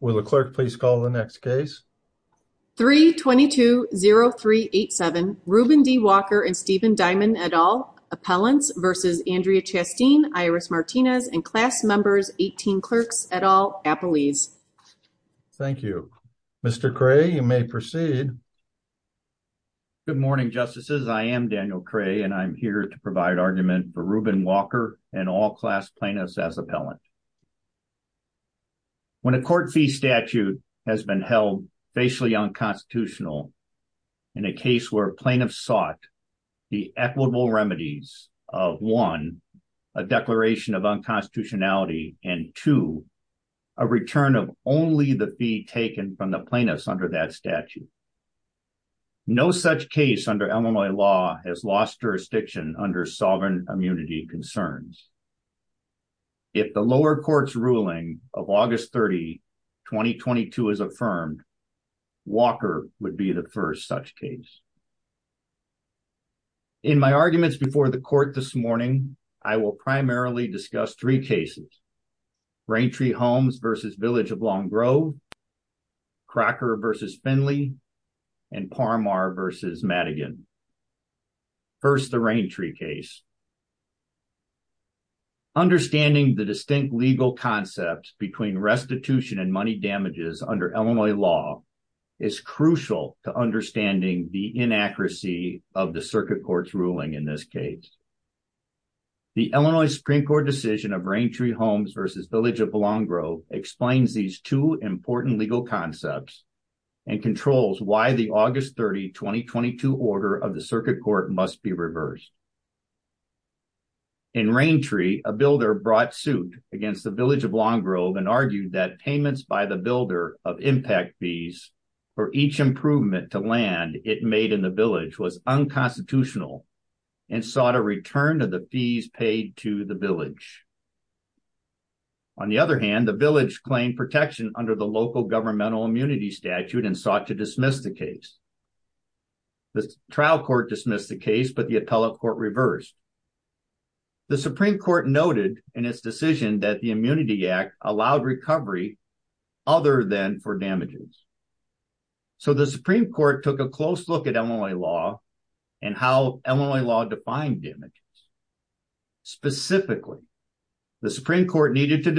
Will the clerk please call the next case? 3-22-03-87 Ruben D. Walker and Stephen Diamond et al. Appellants versus Andrea Chasteen, Iris Martinez and class members 18 clerks et al. Appellees. Thank you. Mr. Cray, you may proceed. Good morning, justices. I am Daniel Cray and I'm here to provide argument for Ruben Walker and all class plaintiffs as appellant. When a court fee statute has been held facially unconstitutional in a case where plaintiffs sought the equitable remedies of one, a declaration of unconstitutionality and two, a return of only the fee taken from the plaintiffs under that statute. No such case under Illinois law has lost jurisdiction under sovereign immunity concerns. If the lower court's ruling of August 30, 2022 is affirmed, Walker would be the first such case. In my arguments before the court this morning, I will primarily discuss three cases. Raintree Homes versus Village of Long Grove, Cracker versus Finley and Parmar versus Madigan. First, the Raintree case. Understanding the distinct legal concepts between restitution and money damages under Illinois law is crucial to understanding the inaccuracy of the circuit court's ruling in this case. The Illinois Supreme Court decision of Raintree Homes versus Village of Long Grove explains these two important legal concepts and controls why the circuit court must be reversed. In Raintree, a builder brought suit against the Village of Long Grove and argued that payments by the builder of impact fees for each improvement to land it made in the village was unconstitutional and sought a return of the fees paid to the village. On the other hand, the village claimed protection under the local governmental immunity statute and sought to dismiss the case. The trial court dismissed the case, but the appellate court reversed. The Supreme Court noted in its decision that the immunity act allowed recovery other than for damages. So the Supreme Court took a close look at Illinois law and how Illinois law defined damages. Specifically, the Supreme Court needed to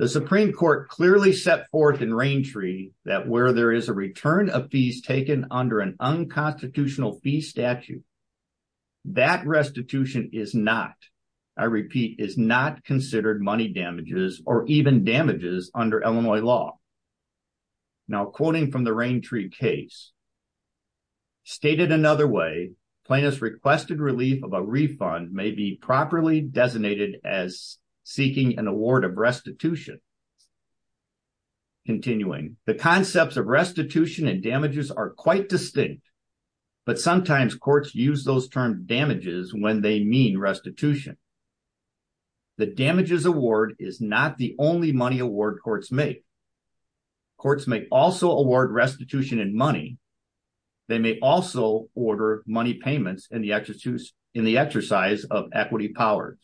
The Supreme Court clearly set forth in Raintree that where there is a return of fees taken under an unconstitutional fee statute, that restitution is not, I repeat, is not considered money damages or even damages under Illinois law. Now, quoting from the Raintree case, stated another way, plaintiffs requested relief of a refund may be properly designated as seeking an award of restitution. Continuing, the concepts of restitution and damages are quite distinct, but sometimes courts use those terms damages when they mean restitution. The damages award is not the only money award courts make. Courts may also award restitution and money. They may also order money payments in the exercise of equity powers.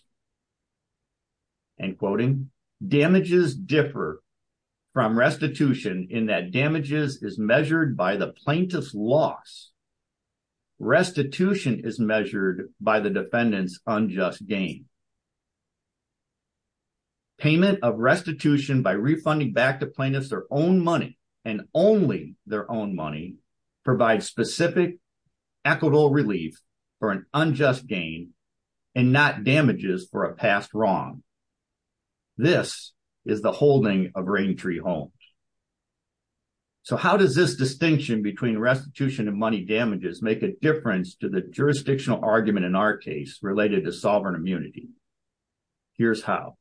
And quoting, damages differ from restitution in that damages is measured by the plaintiff's loss. Restitution is measured by the defendant's unjust gain. Payment of restitution by refunding back to plaintiffs their own money and only their own money provides specific equitable relief for an unjust gain and not damages for a past wrong. This is the holding of Raintree homes. So how does this distinction between restitution and money damages make a difference to the jurisdictional argument in our case related to sovereign immunity? Here's how.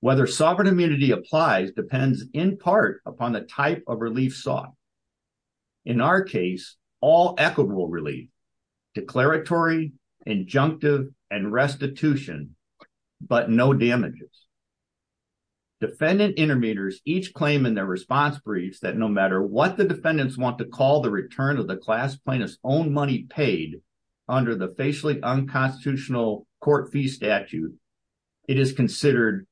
Whether sovereign immunity applies depends in part upon the type of relief sought. In our case, all equitable relief, declaratory, injunctive, and restitution, but no damages. Defendant intermeters each claim in their response briefs no matter what the defendants want to call the return of the class plaintiff's own money paid under the facially unconstitutional court fee statute. It is considered,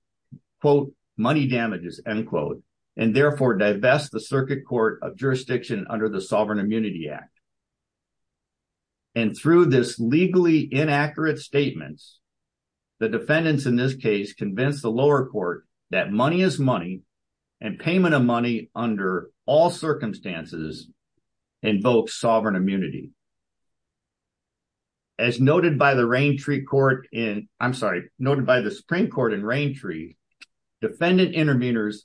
quote, money damages, end quote, and therefore divest the circuit court of jurisdiction under the sovereign immunity act. And through this legally inaccurate statements, the defendants in this case convince the lower court that money is money and payment of money under all circumstances invokes sovereign immunity. As noted by the Raintree court in, I'm sorry, noted by the Supreme Court in Raintree, defendant intermeters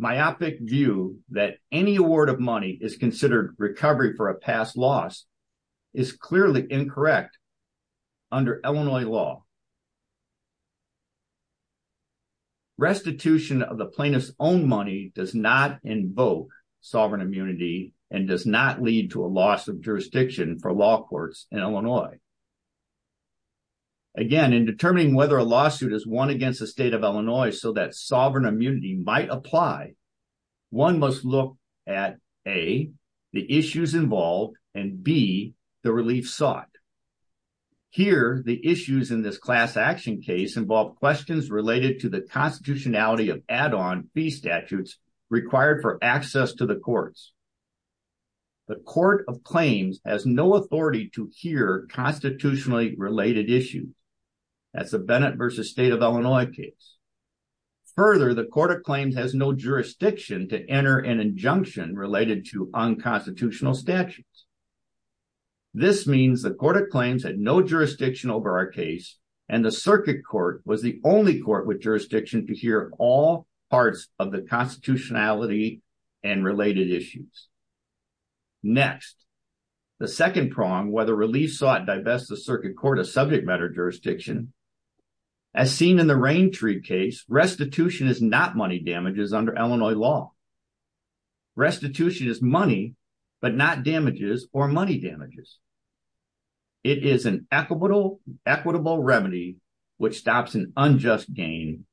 myopic view that any award of money is considered recovery for a past loss is clearly incorrect under Illinois law. Restitution of the plaintiff's own money does not invoke sovereign immunity and does not lead to a loss of jurisdiction for law courts in Illinois. Again, in determining whether a lawsuit is won against the state of Illinois so that sovereign immunity might apply, one must look at, A, involve questions related to the constitutionality of add-on fee statutes required for access to the courts. The court of claims has no authority to hear constitutionally related issues. That's the Bennett versus state of Illinois case. Further, the court of claims has no jurisdiction to enter an injunction related to unconstitutional statutes. This means the court of claims had no jurisdiction over our case, the circuit court was the only court with jurisdiction to hear all parts of the constitutionality and related issues. Next, the second prong, whether relief sought divest the circuit court of subject matter jurisdiction, as seen in the Raintree case, restitution is not money damages under Illinois law. Restitution is money, but not damages or money damages. It is an equitable remedy which stops an unjust gain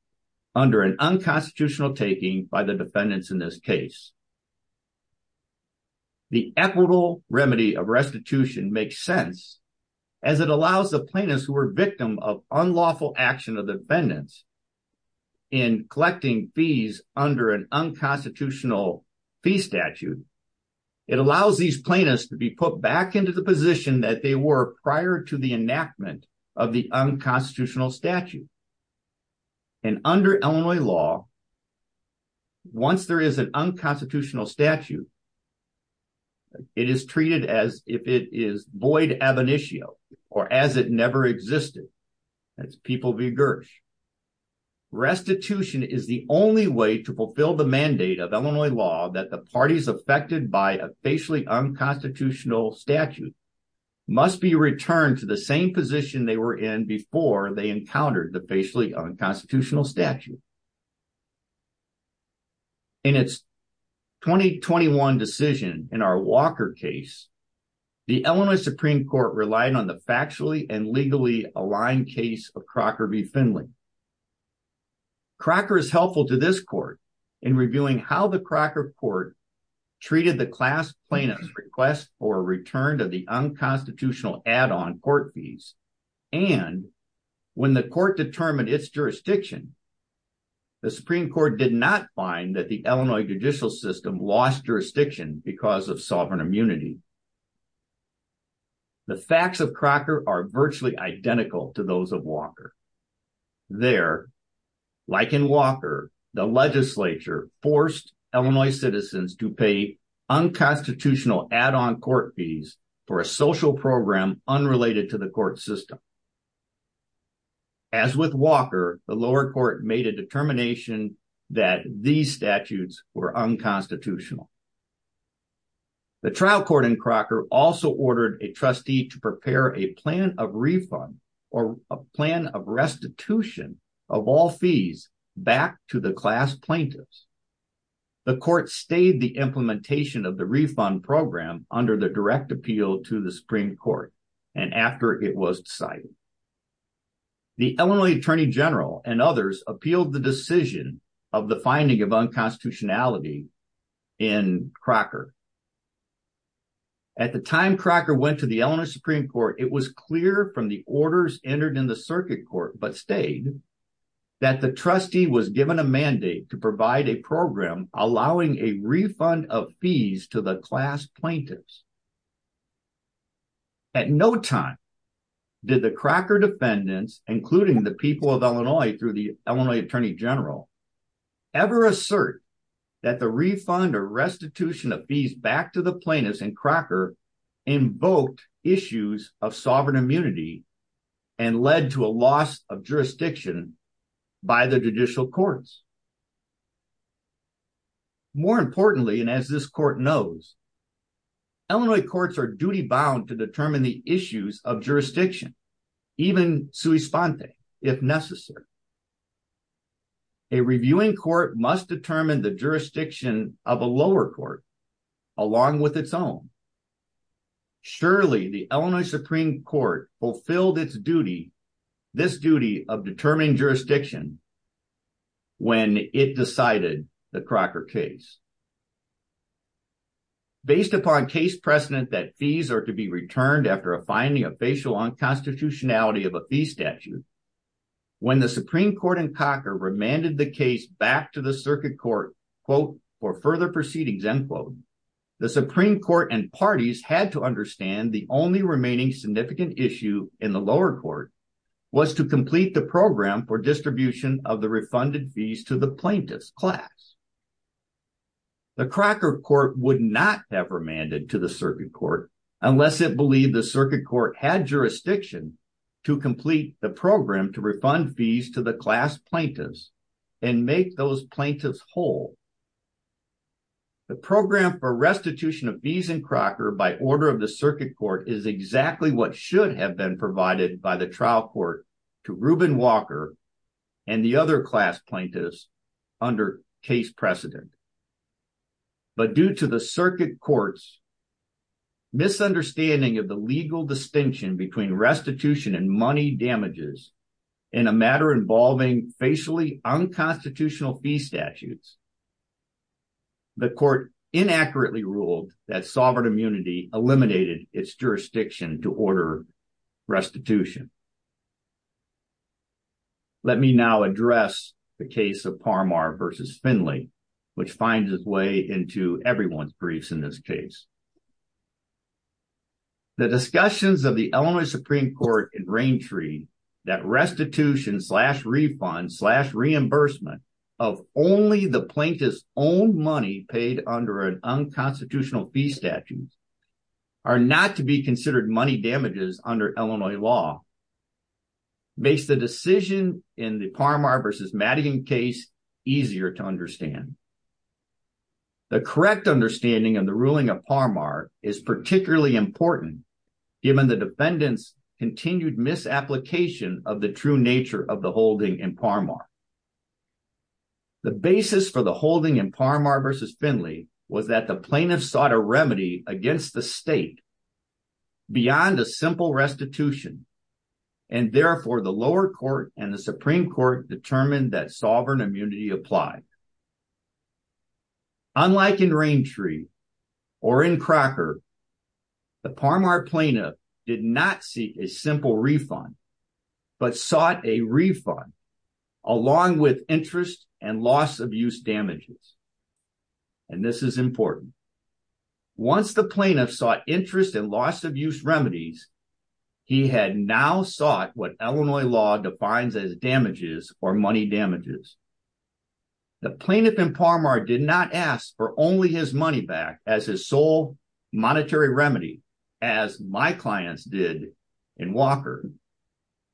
under an unconstitutional taking by the defendants in this case. The equitable remedy of restitution makes sense as it allows the plaintiffs who are victim of unlawful action of defendants in collecting fees under an unconstitutional fee statute, it allows these plaintiffs to be put back into the position that they were prior to the enactment of the unconstitutional statute. And under Illinois law, once there is an unconstitutional statute, it is treated as if it is void ab initio, or as it never existed. Restitution is the only way to fulfill the mandate of Illinois law that the parties affected by a facially unconstitutional statute must be returned to the same position they were in before they encountered the facially unconstitutional statute. In its 2021 decision in our Walker case, the Illinois Supreme Court relied on the factually and legally aligned case of Crocker v. Finley. Crocker is helpful to this court in reviewing how the Crocker court treated the class plaintiff's request for a return to the unconstitutional add-on court fees. And when the court determined its jurisdiction, the Supreme Court did not find that the Illinois judicial system lost jurisdiction because of sovereign immunity. The facts of Crocker are virtually identical to those of Walker. There, like in Walker, the legislature forced Illinois citizens to pay unconstitutional add-on court fees for a social program unrelated to the court system. As with Walker, the lower court made a determination that these statutes were unconstitutional. The trial court in Crocker also ordered a trustee to prepare a plan of refund restitution of all fees back to the class plaintiffs. The court stayed the implementation of the refund program under the direct appeal to the Supreme Court and after it was decided. The Illinois Attorney General and others appealed the decision of the finding of unconstitutionality in Crocker. At the time Crocker went to the Illinois Supreme Court, it was clear from the orders entered in the circuit court but stayed that the trustee was given a mandate to provide a program allowing a refund of fees to the class plaintiffs. At no time did the Crocker defendants, including the people of Illinois through the Illinois Attorney General, ever assert that the refund or restitution of fees back to the plaintiffs in sovereign immunity and led to a loss of jurisdiction by the judicial courts. More importantly, and as this court knows, Illinois courts are duty-bound to determine the issues of jurisdiction, even sui sponte, if necessary. A reviewing court must determine the fulfilled its duty of determining jurisdiction when it decided the Crocker case. Based upon case precedent that fees are to be returned after a finding of facial unconstitutionality of a fee statute, when the Supreme Court in Crocker remanded the case back to the circuit court for further proceedings, the Supreme Court and parties had to understand the only remaining significant issue in the lower court was to complete the program for distribution of the refunded fees to the plaintiff's class. The Crocker court would not have remanded to the circuit court unless it believed the circuit court had jurisdiction to complete the program to refund fees to the class plaintiffs and make those plaintiffs whole. The program for restitution of fees in Crocker by order of the circuit court is exactly what should have been provided by the trial court to Ruben Walker and the other class plaintiffs under case precedent. But due to the circuit court's misunderstanding of the legal distinction between restitution and money damages in a matter involving facially unconstitutional fee statutes, the court inaccurately ruled that sovereign immunity eliminated its jurisdiction to order restitution. Let me now address the case of Parmar versus Finley, which finds its way into everyone's briefs in this case. The discussions of the Illinois Supreme Court in Raintree that restitution slash refund slash owned money paid under an unconstitutional fee statute are not to be considered money damages under Illinois law makes the decision in the Parmar versus Madigan case easier to understand. The correct understanding of the ruling of Parmar is particularly important given the defendant's continued misapplication of the true nature of the holding in Parmar. The basis for the holding in Parmar versus Finley was that the plaintiff sought a remedy against the state beyond a simple restitution and therefore the lower court and the Supreme Court determined that sovereign immunity applied. Unlike in Raintree or in Crocker, the Parmar plaintiff did not seek a simple refund but sought a refund along with interest and loss abuse damages and this is important. Once the plaintiff sought interest and loss abuse remedies, he had now sought what Illinois law defines as damages or money damages. The plaintiff in Parmar did not ask for only his money back as his sole monetary remedy as my clients did in Walker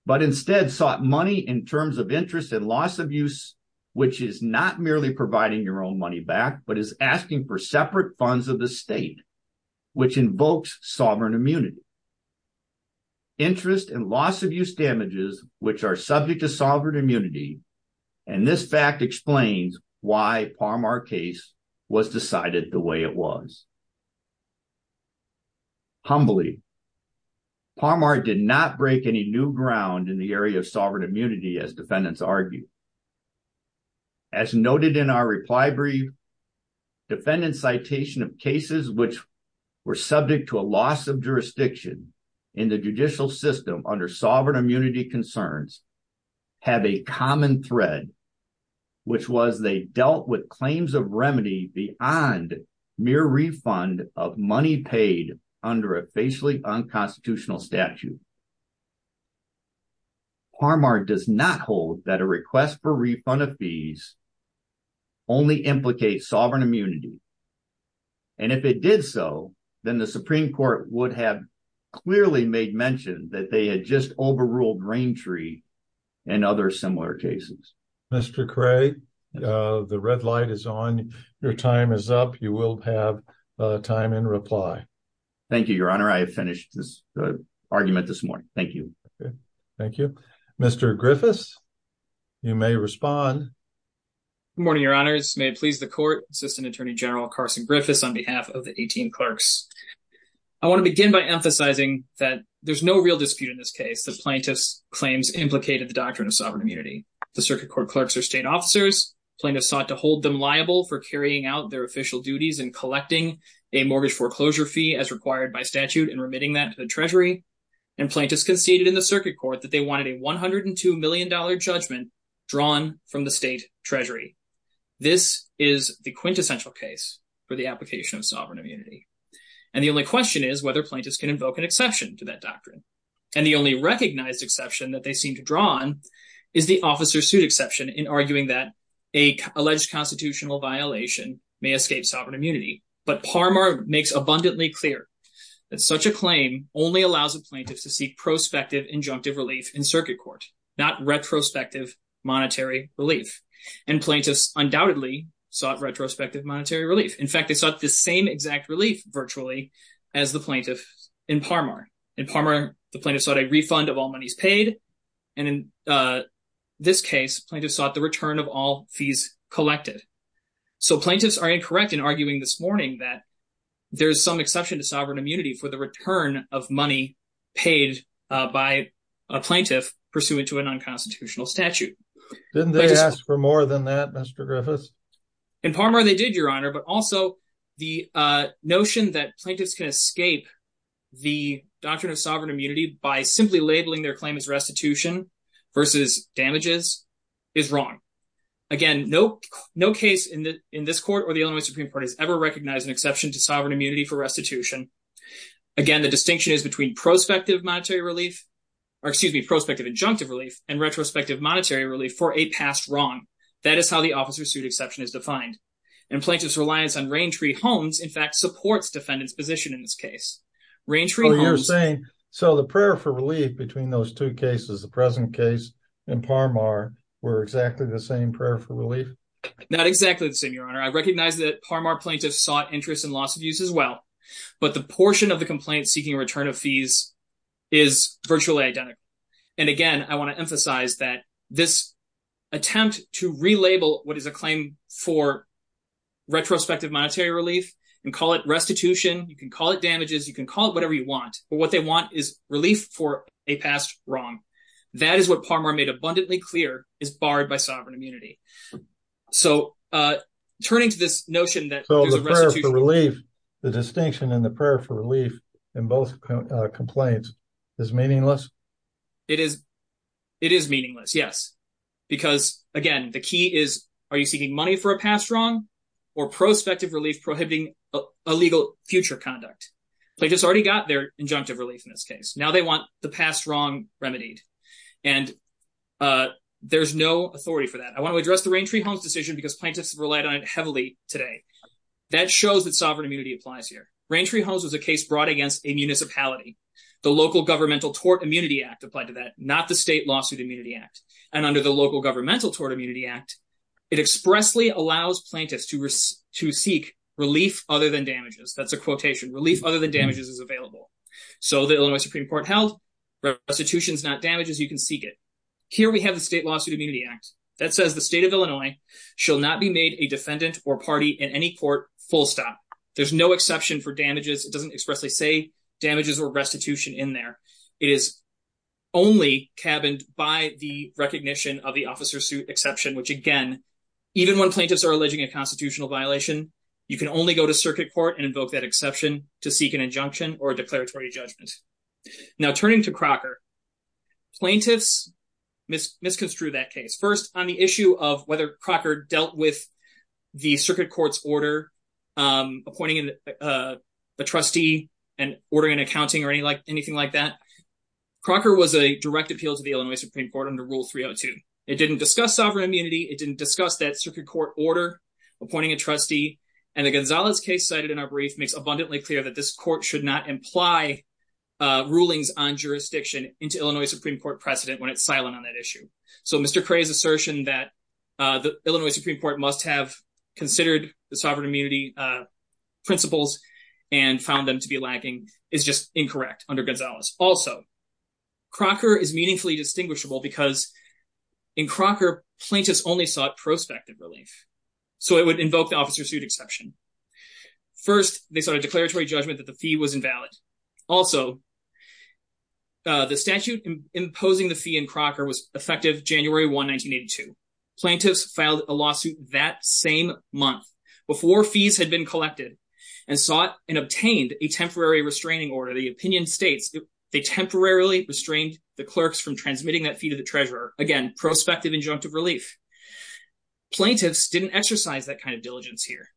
but instead sought money in terms of interest and loss abuse which is not merely providing your own money back but is asking for separate funds of the state which invokes sovereign immunity. Interest and loss abuse damages which are subject to sovereign immunity and this fact explains why Parmar case was decided the way it was. Humbly, Parmar did not break any new ground in the area of sovereign immunity as defendants argued. As noted in our reply brief, defendant's citation of cases which were subject to a loss of thread which was they dealt with claims of remedy beyond mere refund of money paid under a facially unconstitutional statute. Parmar does not hold that a request for refund of fees only implicate sovereign immunity and if it did so, then the Supreme Court would have clearly made mention that they had just overruled Raimtree and other similar cases. Mr. Cray, the red light is on. Your time is up. You will have time in reply. Thank you, your honor. I have finished this argument this morning. Thank you. Thank you. Mr. Griffiths, you may respond. Good morning, your honors. May it please the court. Assistant Attorney General Carson Griffiths on behalf of the 18 clerks. I want to begin by emphasizing that there's no real dispute in this case that plaintiffs' claims implicated the doctrine of sovereign immunity. The circuit court clerks are state officers. Plaintiffs sought to hold them liable for carrying out their official duties and collecting a mortgage foreclosure fee as required by statute and remitting that to the treasury and plaintiffs conceded in the circuit court that they wanted a $102 million judgment drawn from the state treasury. This is the quintessential case for the application of sovereign immunity and the only question is whether plaintiffs can invoke an exception to that doctrine. And the only recognized exception that they seem to draw on is the officer suit exception in arguing that a alleged constitutional violation may escape sovereign immunity. But Parmar makes abundantly clear that such a claim only allows a plaintiff to seek prospective injunctive relief in circuit court, not retrospective monetary relief. And plaintiffs undoubtedly sought retrospective monetary relief. In fact, they sought the same exact relief virtually as the plaintiffs in Parmar. In Parmar, the plaintiffs sought a refund of all monies paid and in this case, plaintiffs sought the return of all fees collected. So plaintiffs are incorrect in arguing this morning that there's some exception to sovereign immunity for the return of money paid by a plaintiff pursuant to an unconstitutional statute. Didn't they ask for a notion that plaintiffs can escape the doctrine of sovereign immunity by simply labeling their claim as restitution versus damages is wrong. Again, no case in this court or the Illinois Supreme Court has ever recognized an exception to sovereign immunity for restitution. Again, the distinction is between prospective injunctive relief and retrospective monetary relief for a past wrong. That is how the officer suit exception is defined. And plaintiffs' reliance on rain tree homes, in fact, supports defendant's position in this case. Oh, you're saying, so the prayer for relief between those two cases, the present case in Parmar, were exactly the same prayer for relief? Not exactly the same, Your Honor. I recognize that Parmar plaintiffs sought interest in loss of use as well, but the portion of the complaint seeking return of fees is virtually identical. And again, I want to emphasize that this attempt to relabel what is a claim for retrospective monetary relief and call it restitution, you can call it damages, you can call it whatever you want, but what they want is relief for a past wrong. That is what Parmar made abundantly clear is barred by sovereign immunity. So turning to this notion that the distinction in the prayer for relief in both complaints is meaningless? It is. It is meaningless, yes. Because again, the key is, are you seeking money for a past wrong or prospective relief prohibiting illegal future conduct? Plaintiffs already got their injunctive relief in this case. Now they want the past wrong remedied. And there's no authority for that. I want to address the rain tree homes decision because plaintiffs have relied on it heavily today. That shows that sovereign immunity applies here. Rain tree homes was a case brought against a municipality. The Local Governmental Tort Immunity Act applied to that, not the State Lawsuit Immunity Act. And under the Local Governmental Tort Immunity Act, it expressly allows plaintiffs to seek relief other than damages. That's a quotation. Relief other than damages is available. So the Illinois Supreme Court held restitution is not damages, you can seek it. Here we have the State Lawsuit Immunity Act that says the state of Illinois shall not be made a defendant or party in any court full stop. There's no exception for damages. It doesn't expressly say damages or restitution in there. It is only cabined by the recognition of the officer's suit exception, which again, even when plaintiffs are alleging a constitutional violation, you can only go to circuit court and invoke that exception to seek an injunction or a declaratory judgment. Now turning to Crocker, plaintiffs misconstrued that case. First, on the issue of ordering an accounting or anything like that. Crocker was a direct appeal to the Illinois Supreme Court under Rule 302. It didn't discuss sovereign immunity. It didn't discuss that circuit court order appointing a trustee. And the Gonzalez case cited in our brief makes abundantly clear that this court should not imply rulings on jurisdiction into Illinois Supreme Court precedent when it's silent on that issue. So Mr. Cray's assertion that the Illinois Supreme Court must have considered the sovereign immunity principles and found them to be lacking is just incorrect under Gonzalez. Also, Crocker is meaningfully distinguishable because in Crocker, plaintiffs only sought prospective relief. So it would invoke the officer's suit exception. First, they sought a declaratory judgment that the fee was invalid. Also, the statute imposing the fee in Crocker was effective January 1, 1982. Plaintiffs filed a lawsuit that same month before fees had been collected and sought and obtained a temporary restraining order. The opinion states they temporarily restrained the clerks from transmitting that fee to the treasurer. Again, prospective injunctive relief. Plaintiffs didn't exercise that kind of diligence here.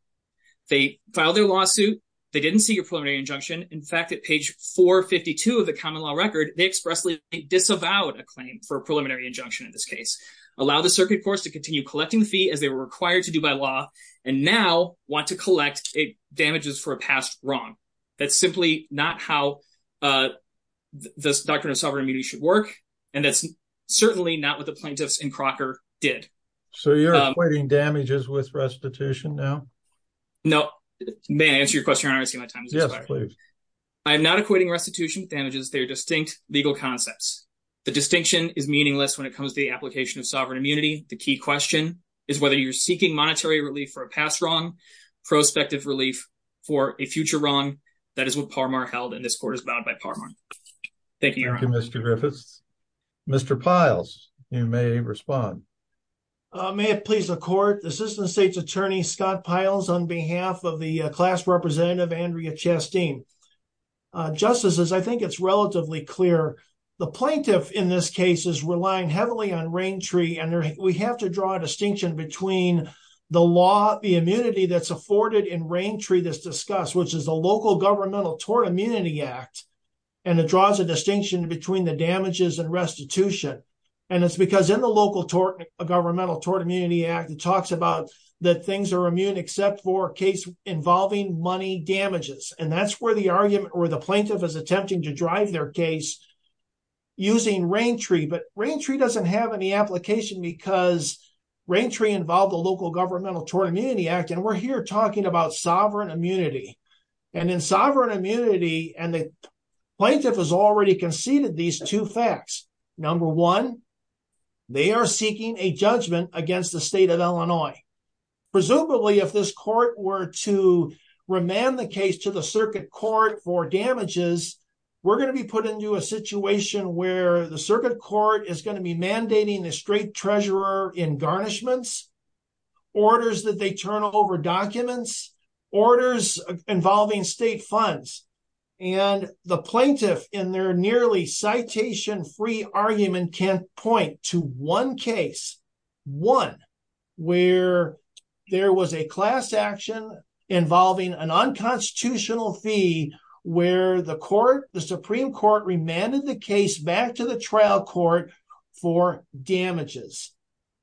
They filed their lawsuit. They didn't seek a preliminary injunction. In fact, at page 452 of the common law record, they expressly disavowed a claim for a preliminary injunction in this case, allowed the circuit courts to continue collecting the fee as they were required to do by law, and now want to collect damages for a past wrong. That's simply not how the doctrine of sovereign immunity should work, and that's certainly not what the plaintiffs in Crocker did. So you're equating damages with restitution now? No. May I answer your question? I don't see my time is expired. Yes, please. I am not equating restitution with damages. They are distinct legal concepts. The distinction is meaningless when it comes to the application of sovereign immunity. The key question is whether you're seeking monetary relief for a past wrong, prospective relief for a future wrong. That is what Parmar held, and this court is bound by Parmar. Thank you. Thank you, Mr. Griffiths. Mr. Piles, you may respond. May it please the court, Assistant State's Attorney Scott Piles on behalf of the class representative, Andrea Chasteen. Justices, I think it's relatively clear. The plaintiff in this case is relying heavily on rain tree, and we have to draw a distinction between the law, the immunity that's afforded in rain tree that's discussed, which is a local governmental tort immunity act, and it draws a distinction between the damages and restitution. And it's because in the local governmental tort immunity act, it talks about that things are money damages. And that's where the argument or the plaintiff is attempting to drive their case using rain tree. But rain tree doesn't have any application because rain tree involved the local governmental tort immunity act, and we're here talking about sovereign immunity. And in sovereign immunity, and the plaintiff has already conceded these two facts. Number one, they are seeking a judgment against the state of Illinois. Presumably, if this court were to remand the case to the circuit court for damages, we're going to be put into a situation where the circuit court is going to be mandating a straight treasurer in garnishments, orders that they turn over documents, orders involving state funds. And the plaintiff in their nearly citation free argument can point to one case, one, where there was a class action involving an unconstitutional fee, where the court, the Supreme Court remanded the case back to the trial court for damages.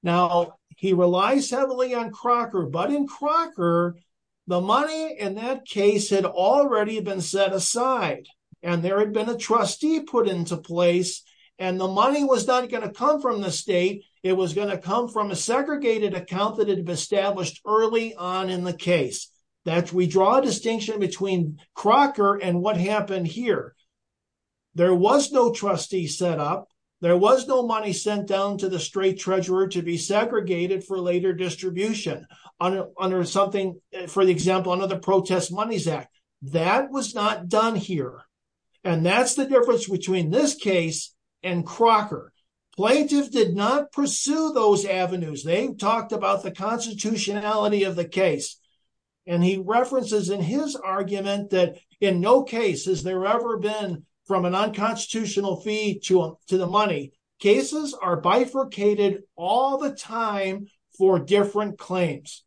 Now, he relies heavily on Crocker, but in Crocker, the money in that case had already been set aside, and there had been a trustee put into place, and the money was not going to come from the state, it was going to come from a segregated account that had been established early on in the case. That we draw a distinction between Crocker and what happened here. There was no trustee set up, there was no money sent down to the straight treasurer to be segregated for later distribution under something, for example, the Protest Monies Act. That was not done here. And that's the difference between this case and Crocker. Plaintiffs did not pursue those avenues. They talked about the constitutionality of the case. And he references in his argument that in no case has there ever been from an unconstitutional fee to the money. Cases are bifurcated all the time for different claims.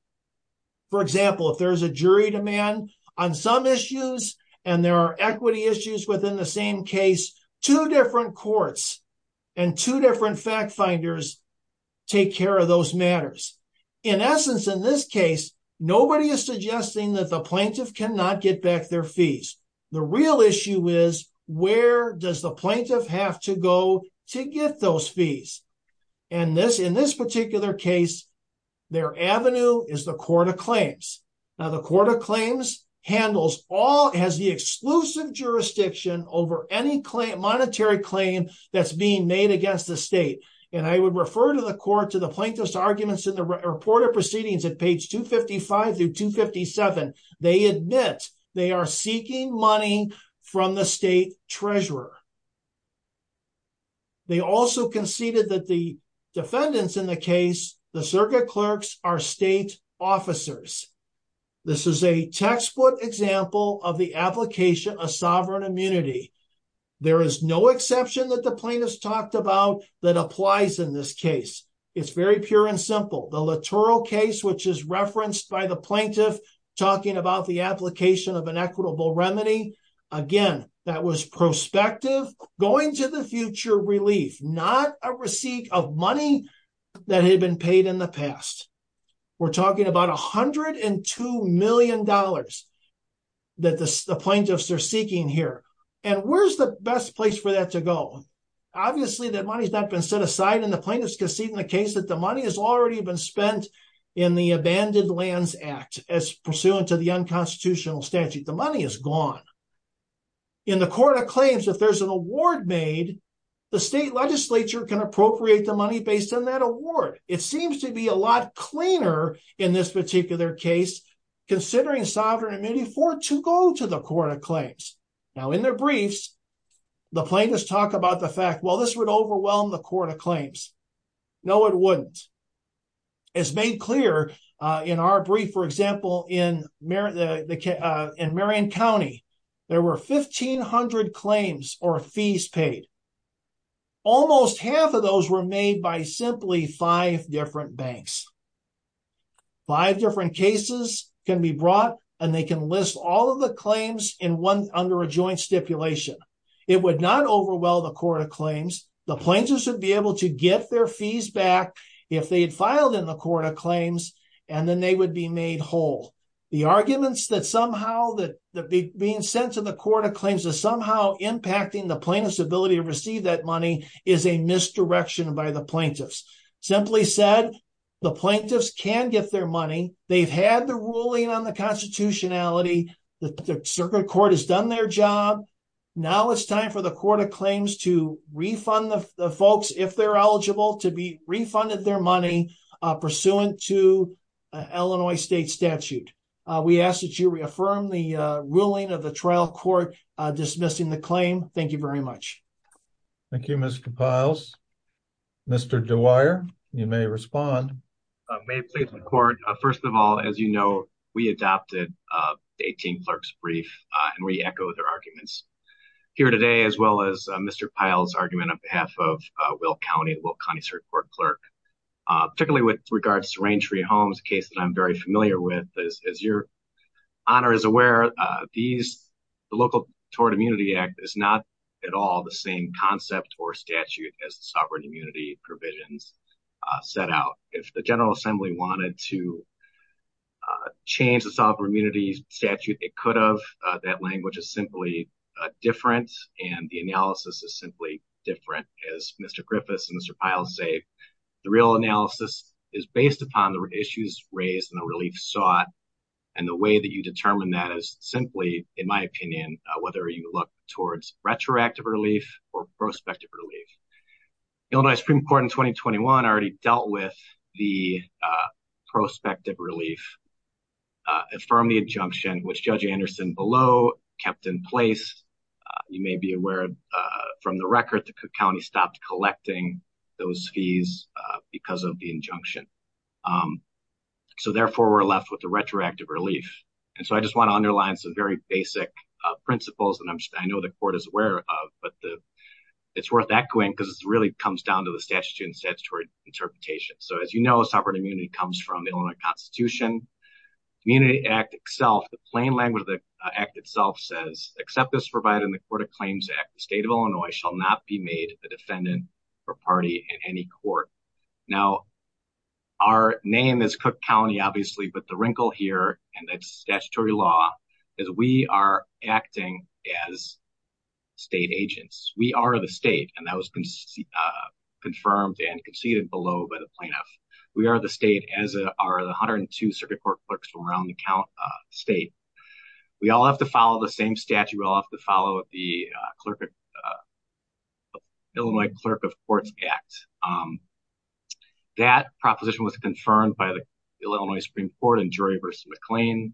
For example, if there's a jury demand on some issues, and there are equity issues within the same case, two different courts and two different fact finders take care of those matters. In essence, in this case, nobody is suggesting that the plaintiff cannot get back their fees. The real issue is, where does the plaintiff have to go to get those fees? And in this particular case, their avenue is the Court of Claims. Now the Court of Claims handles all, has the exclusive jurisdiction over any monetary claim that's being made against the state. And I would refer to the court to the plaintiff's arguments in the report of proceedings at page 255 through 257. They admit they are seeking money from the state treasurer. They also conceded that the defendants in the case, the circuit clerks, are state officers. This is a textbook example of the application of sovereign immunity. There is no exception that the plaintiffs talked about that applies in this case. It's very pure and simple. The Littoral case, which is referenced by the plaintiff talking about the application of an equitable remedy, again, that was prospective, going to the future relief, not a receipt of money that had been paid in the past. We're talking about $102 million that the plaintiffs are seeking here. And where's the best place for that to go? Obviously, that money's not been set aside, and the plaintiffs conceded in the case that the money has already been spent in the Abandoned Lands Act as pursuant to the unconstitutional statute. The money is gone. In the Court of Claims, if there's an award made, the state legislature can appropriate the money based on that award. It seems to be a lot cleaner in this particular case, considering sovereign immunity for it to go to the Court of Claims. Now, in their briefs, the plaintiffs talk about the fact, well, this would overwhelm the Court of Claims. No, it wouldn't. As made clear in our brief, for example, in Marion County, there were 1,500 claims or fees paid. Almost half of those were made by simply five different banks. Five different cases can be brought, and they can list all of the claims under a joint stipulation. It would not overwhelm the Court of Claims. The plaintiffs would be able to get their fees back if they had filed in the Court of Claims, and then they would be made whole. The arguments that somehow that being sent to the Court of Claims is somehow impacting the plaintiff's ability to receive that money is a misdirection by the plaintiffs. Simply said, the plaintiffs can get their money. They've had the ruling on the constitutionality. The circuit court has done their job. Now, it's time for the Court of Claims to refund the folks, if they're eligible, to be refunded their money pursuant to Illinois state statute. We ask that you reaffirm the ruling of the trial court dismissing the claim. Thank you very much. Thank you, Mr. Piles. Mr. Dwyer, you may respond. May it please the Court. First of all, as you know, we adopted the 18th Clerk's Brief, and we echo their arguments here today, as well as Mr. Piles' argument on behalf of Will County, the Will County Circuit Court Clerk, particularly with regards to Raintree Homes, a case that I'm very familiar with. As your Honor is aware, the Local Tort Immunity Act is not at all the same concept or statute as the sovereign immunity provisions set out. If the General Assembly wanted to change the sovereign immunity statute, it could have. That language is simply different, and the analysis is simply different. As Mr. Griffiths and Mr. Piles say, the real analysis is based upon the issues raised and the relief sought, and the way that you determine that is simply, in my opinion, whether you look retroactive relief or prospective relief. The Illinois Supreme Court in 2021 already dealt with the prospective relief from the injunction, which Judge Anderson below kept in place. You may be aware, from the record, the county stopped collecting those fees because of the injunction. Therefore, we're left with the retroactive relief. I just want to underline some very basic principles that I know the court is aware of, but it's worth echoing because it really comes down to the statutory interpretation. As you know, sovereign immunity comes from the Illinois Constitution. The plain language of the act itself says, except as provided in the Court of Claims Act, the State of Illinois shall not be made a defendant or party in any court. Now, our name is Cook County, obviously, but the wrinkle here, and that's statutory law, is we are acting as state agents. We are the state, and that was confirmed and conceded below by the plaintiff. We are the state as are the 102 circuit court clerks from around the state. We all have to follow the same statute. We all have to follow the Illinois Clerk of Courts Act. That proposition was confirmed by the Illinois Supreme Court in Drury v. McLean.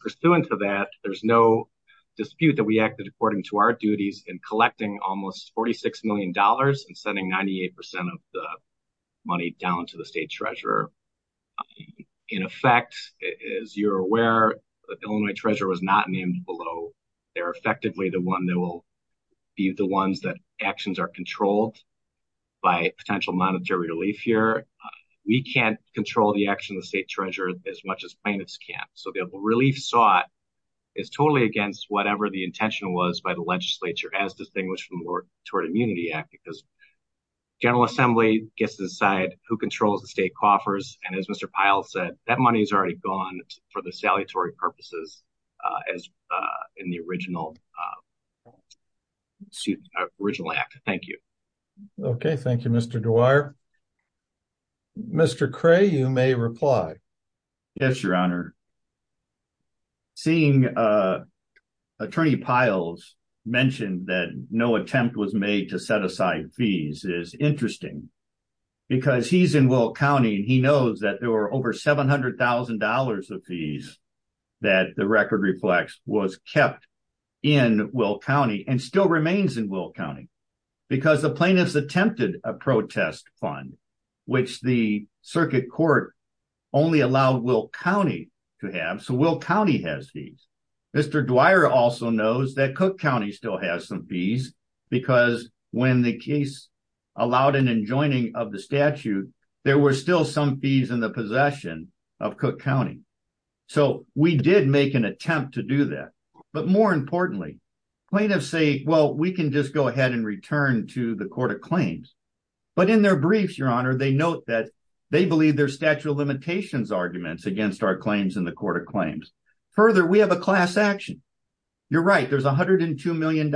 Pursuant to that, there's no dispute that we acted according to our duties in collecting almost $46 million and sending 98% of the money down to the state treasurer. In effect, as you're aware, the Illinois treasurer was not named below. They're effectively the one that will be the ones that actions are controlled by potential monetary relief here. We can't control the action of the state treasurer as much as plaintiffs can, so the relief sought is totally against whatever the intention was by the legislature as distinguished from the Mortuary Immunity Act because the General Assembly gets to decide who controls the state coffers, and as Mr. Pyle said, that money's already gone for the original act. Thank you. Okay, thank you, Mr. Duar. Mr. Cray, you may reply. Yes, Your Honor. Seeing Attorney Pyle's mention that no attempt was made to set aside fees is interesting because he's in Will County and he knows that there were over $700,000 of fees that the record was kept in Will County and still remains in Will County because the plaintiffs attempted a protest fund which the circuit court only allowed Will County to have, so Will County has fees. Mr. Duar also knows that Cook County still has some fees because when the case allowed an enjoining of the statute, there were still some fees in the possession of Cook County, so we did make an attempt to do that, but more importantly, plaintiffs say, well, we can just go ahead and return to the Court of Claims, but in their briefs, Your Honor, they note that they believe there's statute of limitations arguments against our claims in the Court of Claims. Further, we have a class action. You're right. There's $102 million.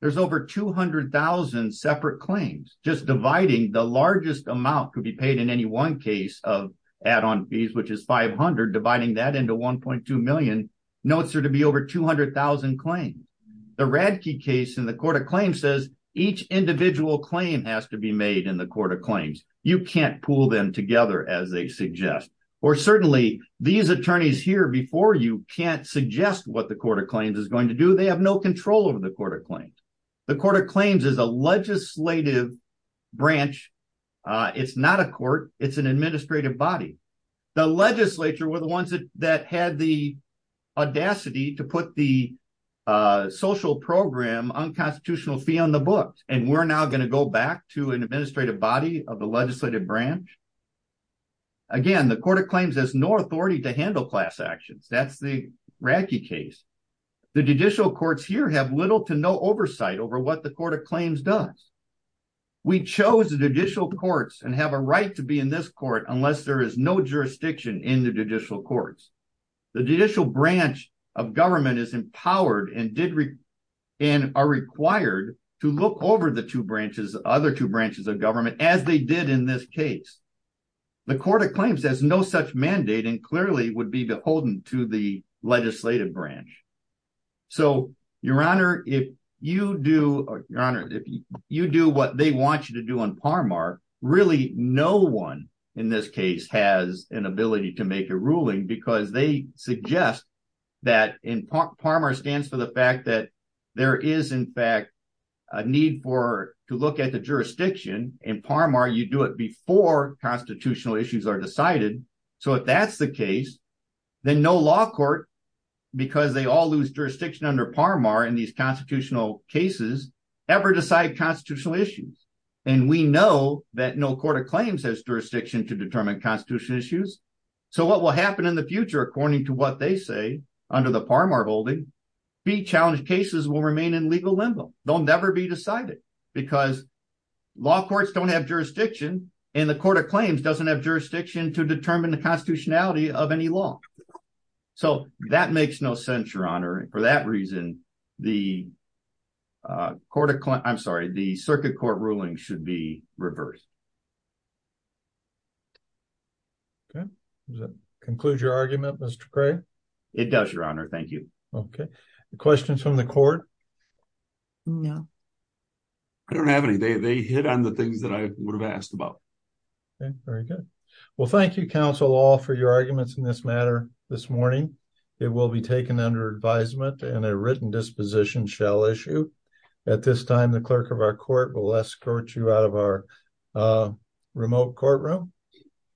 There's over 200,000 separate claims. Just dividing the largest amount could be paid in any one case of add-on fees, which is $500,000. Dividing that into $1.2 million notes there to be over 200,000 claims. The Radke case in the Court of Claims says each individual claim has to be made in the Court of Claims. You can't pool them together as they suggest, or certainly, these attorneys here before you can't suggest what the Court of Claims is going to do. They have no control over the Court of Claims. The Court of Claims is a legislative branch. It's not a court. It's an administrative branch. The legislature were the ones that had the audacity to put the social program unconstitutional fee on the books. We're now going to go back to an administrative body of the legislative branch. Again, the Court of Claims has no authority to handle class actions. That's the Radke case. The judicial courts here have little to no oversight over what the Court of Claims does. We chose the judicial courts and have a right to be in this court unless there is no jurisdiction in the judicial courts. The judicial branch of government is empowered and are required to look over the other two branches of government as they did in this case. The Court of Claims has no such mandate and clearly would be beholden to the legislative branch. So, Your Honor, if you do what they want you to do in Parmar, really no one in this case has an ability to make a ruling because they suggest that Parmar stands for the fact that there is, in fact, a need to look at the jurisdiction. In Parmar, you do it before constitutional issues are decided. So, if that's the case, then no law court, because they all lose jurisdiction under Parmar in these constitutional cases, ever decides constitutional issues. And we know that no Court of Claims has jurisdiction to determine constitutional issues. So, what will happen in the future, according to what they say, under the Parmar holding, fee-challenged cases will remain in legal limbo. They'll never be decided because law courts don't have jurisdiction and Court of Claims doesn't have jurisdiction to determine the constitutionality of any law. So, that makes no sense, Your Honor. For that reason, the Circuit Court ruling should be reversed. Okay. Does that conclude your argument, Mr. Cray? It does, Your Honor. Thank you. Okay. Questions from the Court? No. I don't have any. They hit on the things that I would have asked about. Okay. Very good. Well, thank you, counsel, all, for your arguments in this matter this morning. It will be taken under advisement and a written disposition shall issue. At this time, the clerk of our court will escort you out of our remote courtroom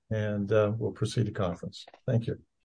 and we'll proceed to conference. Thank you.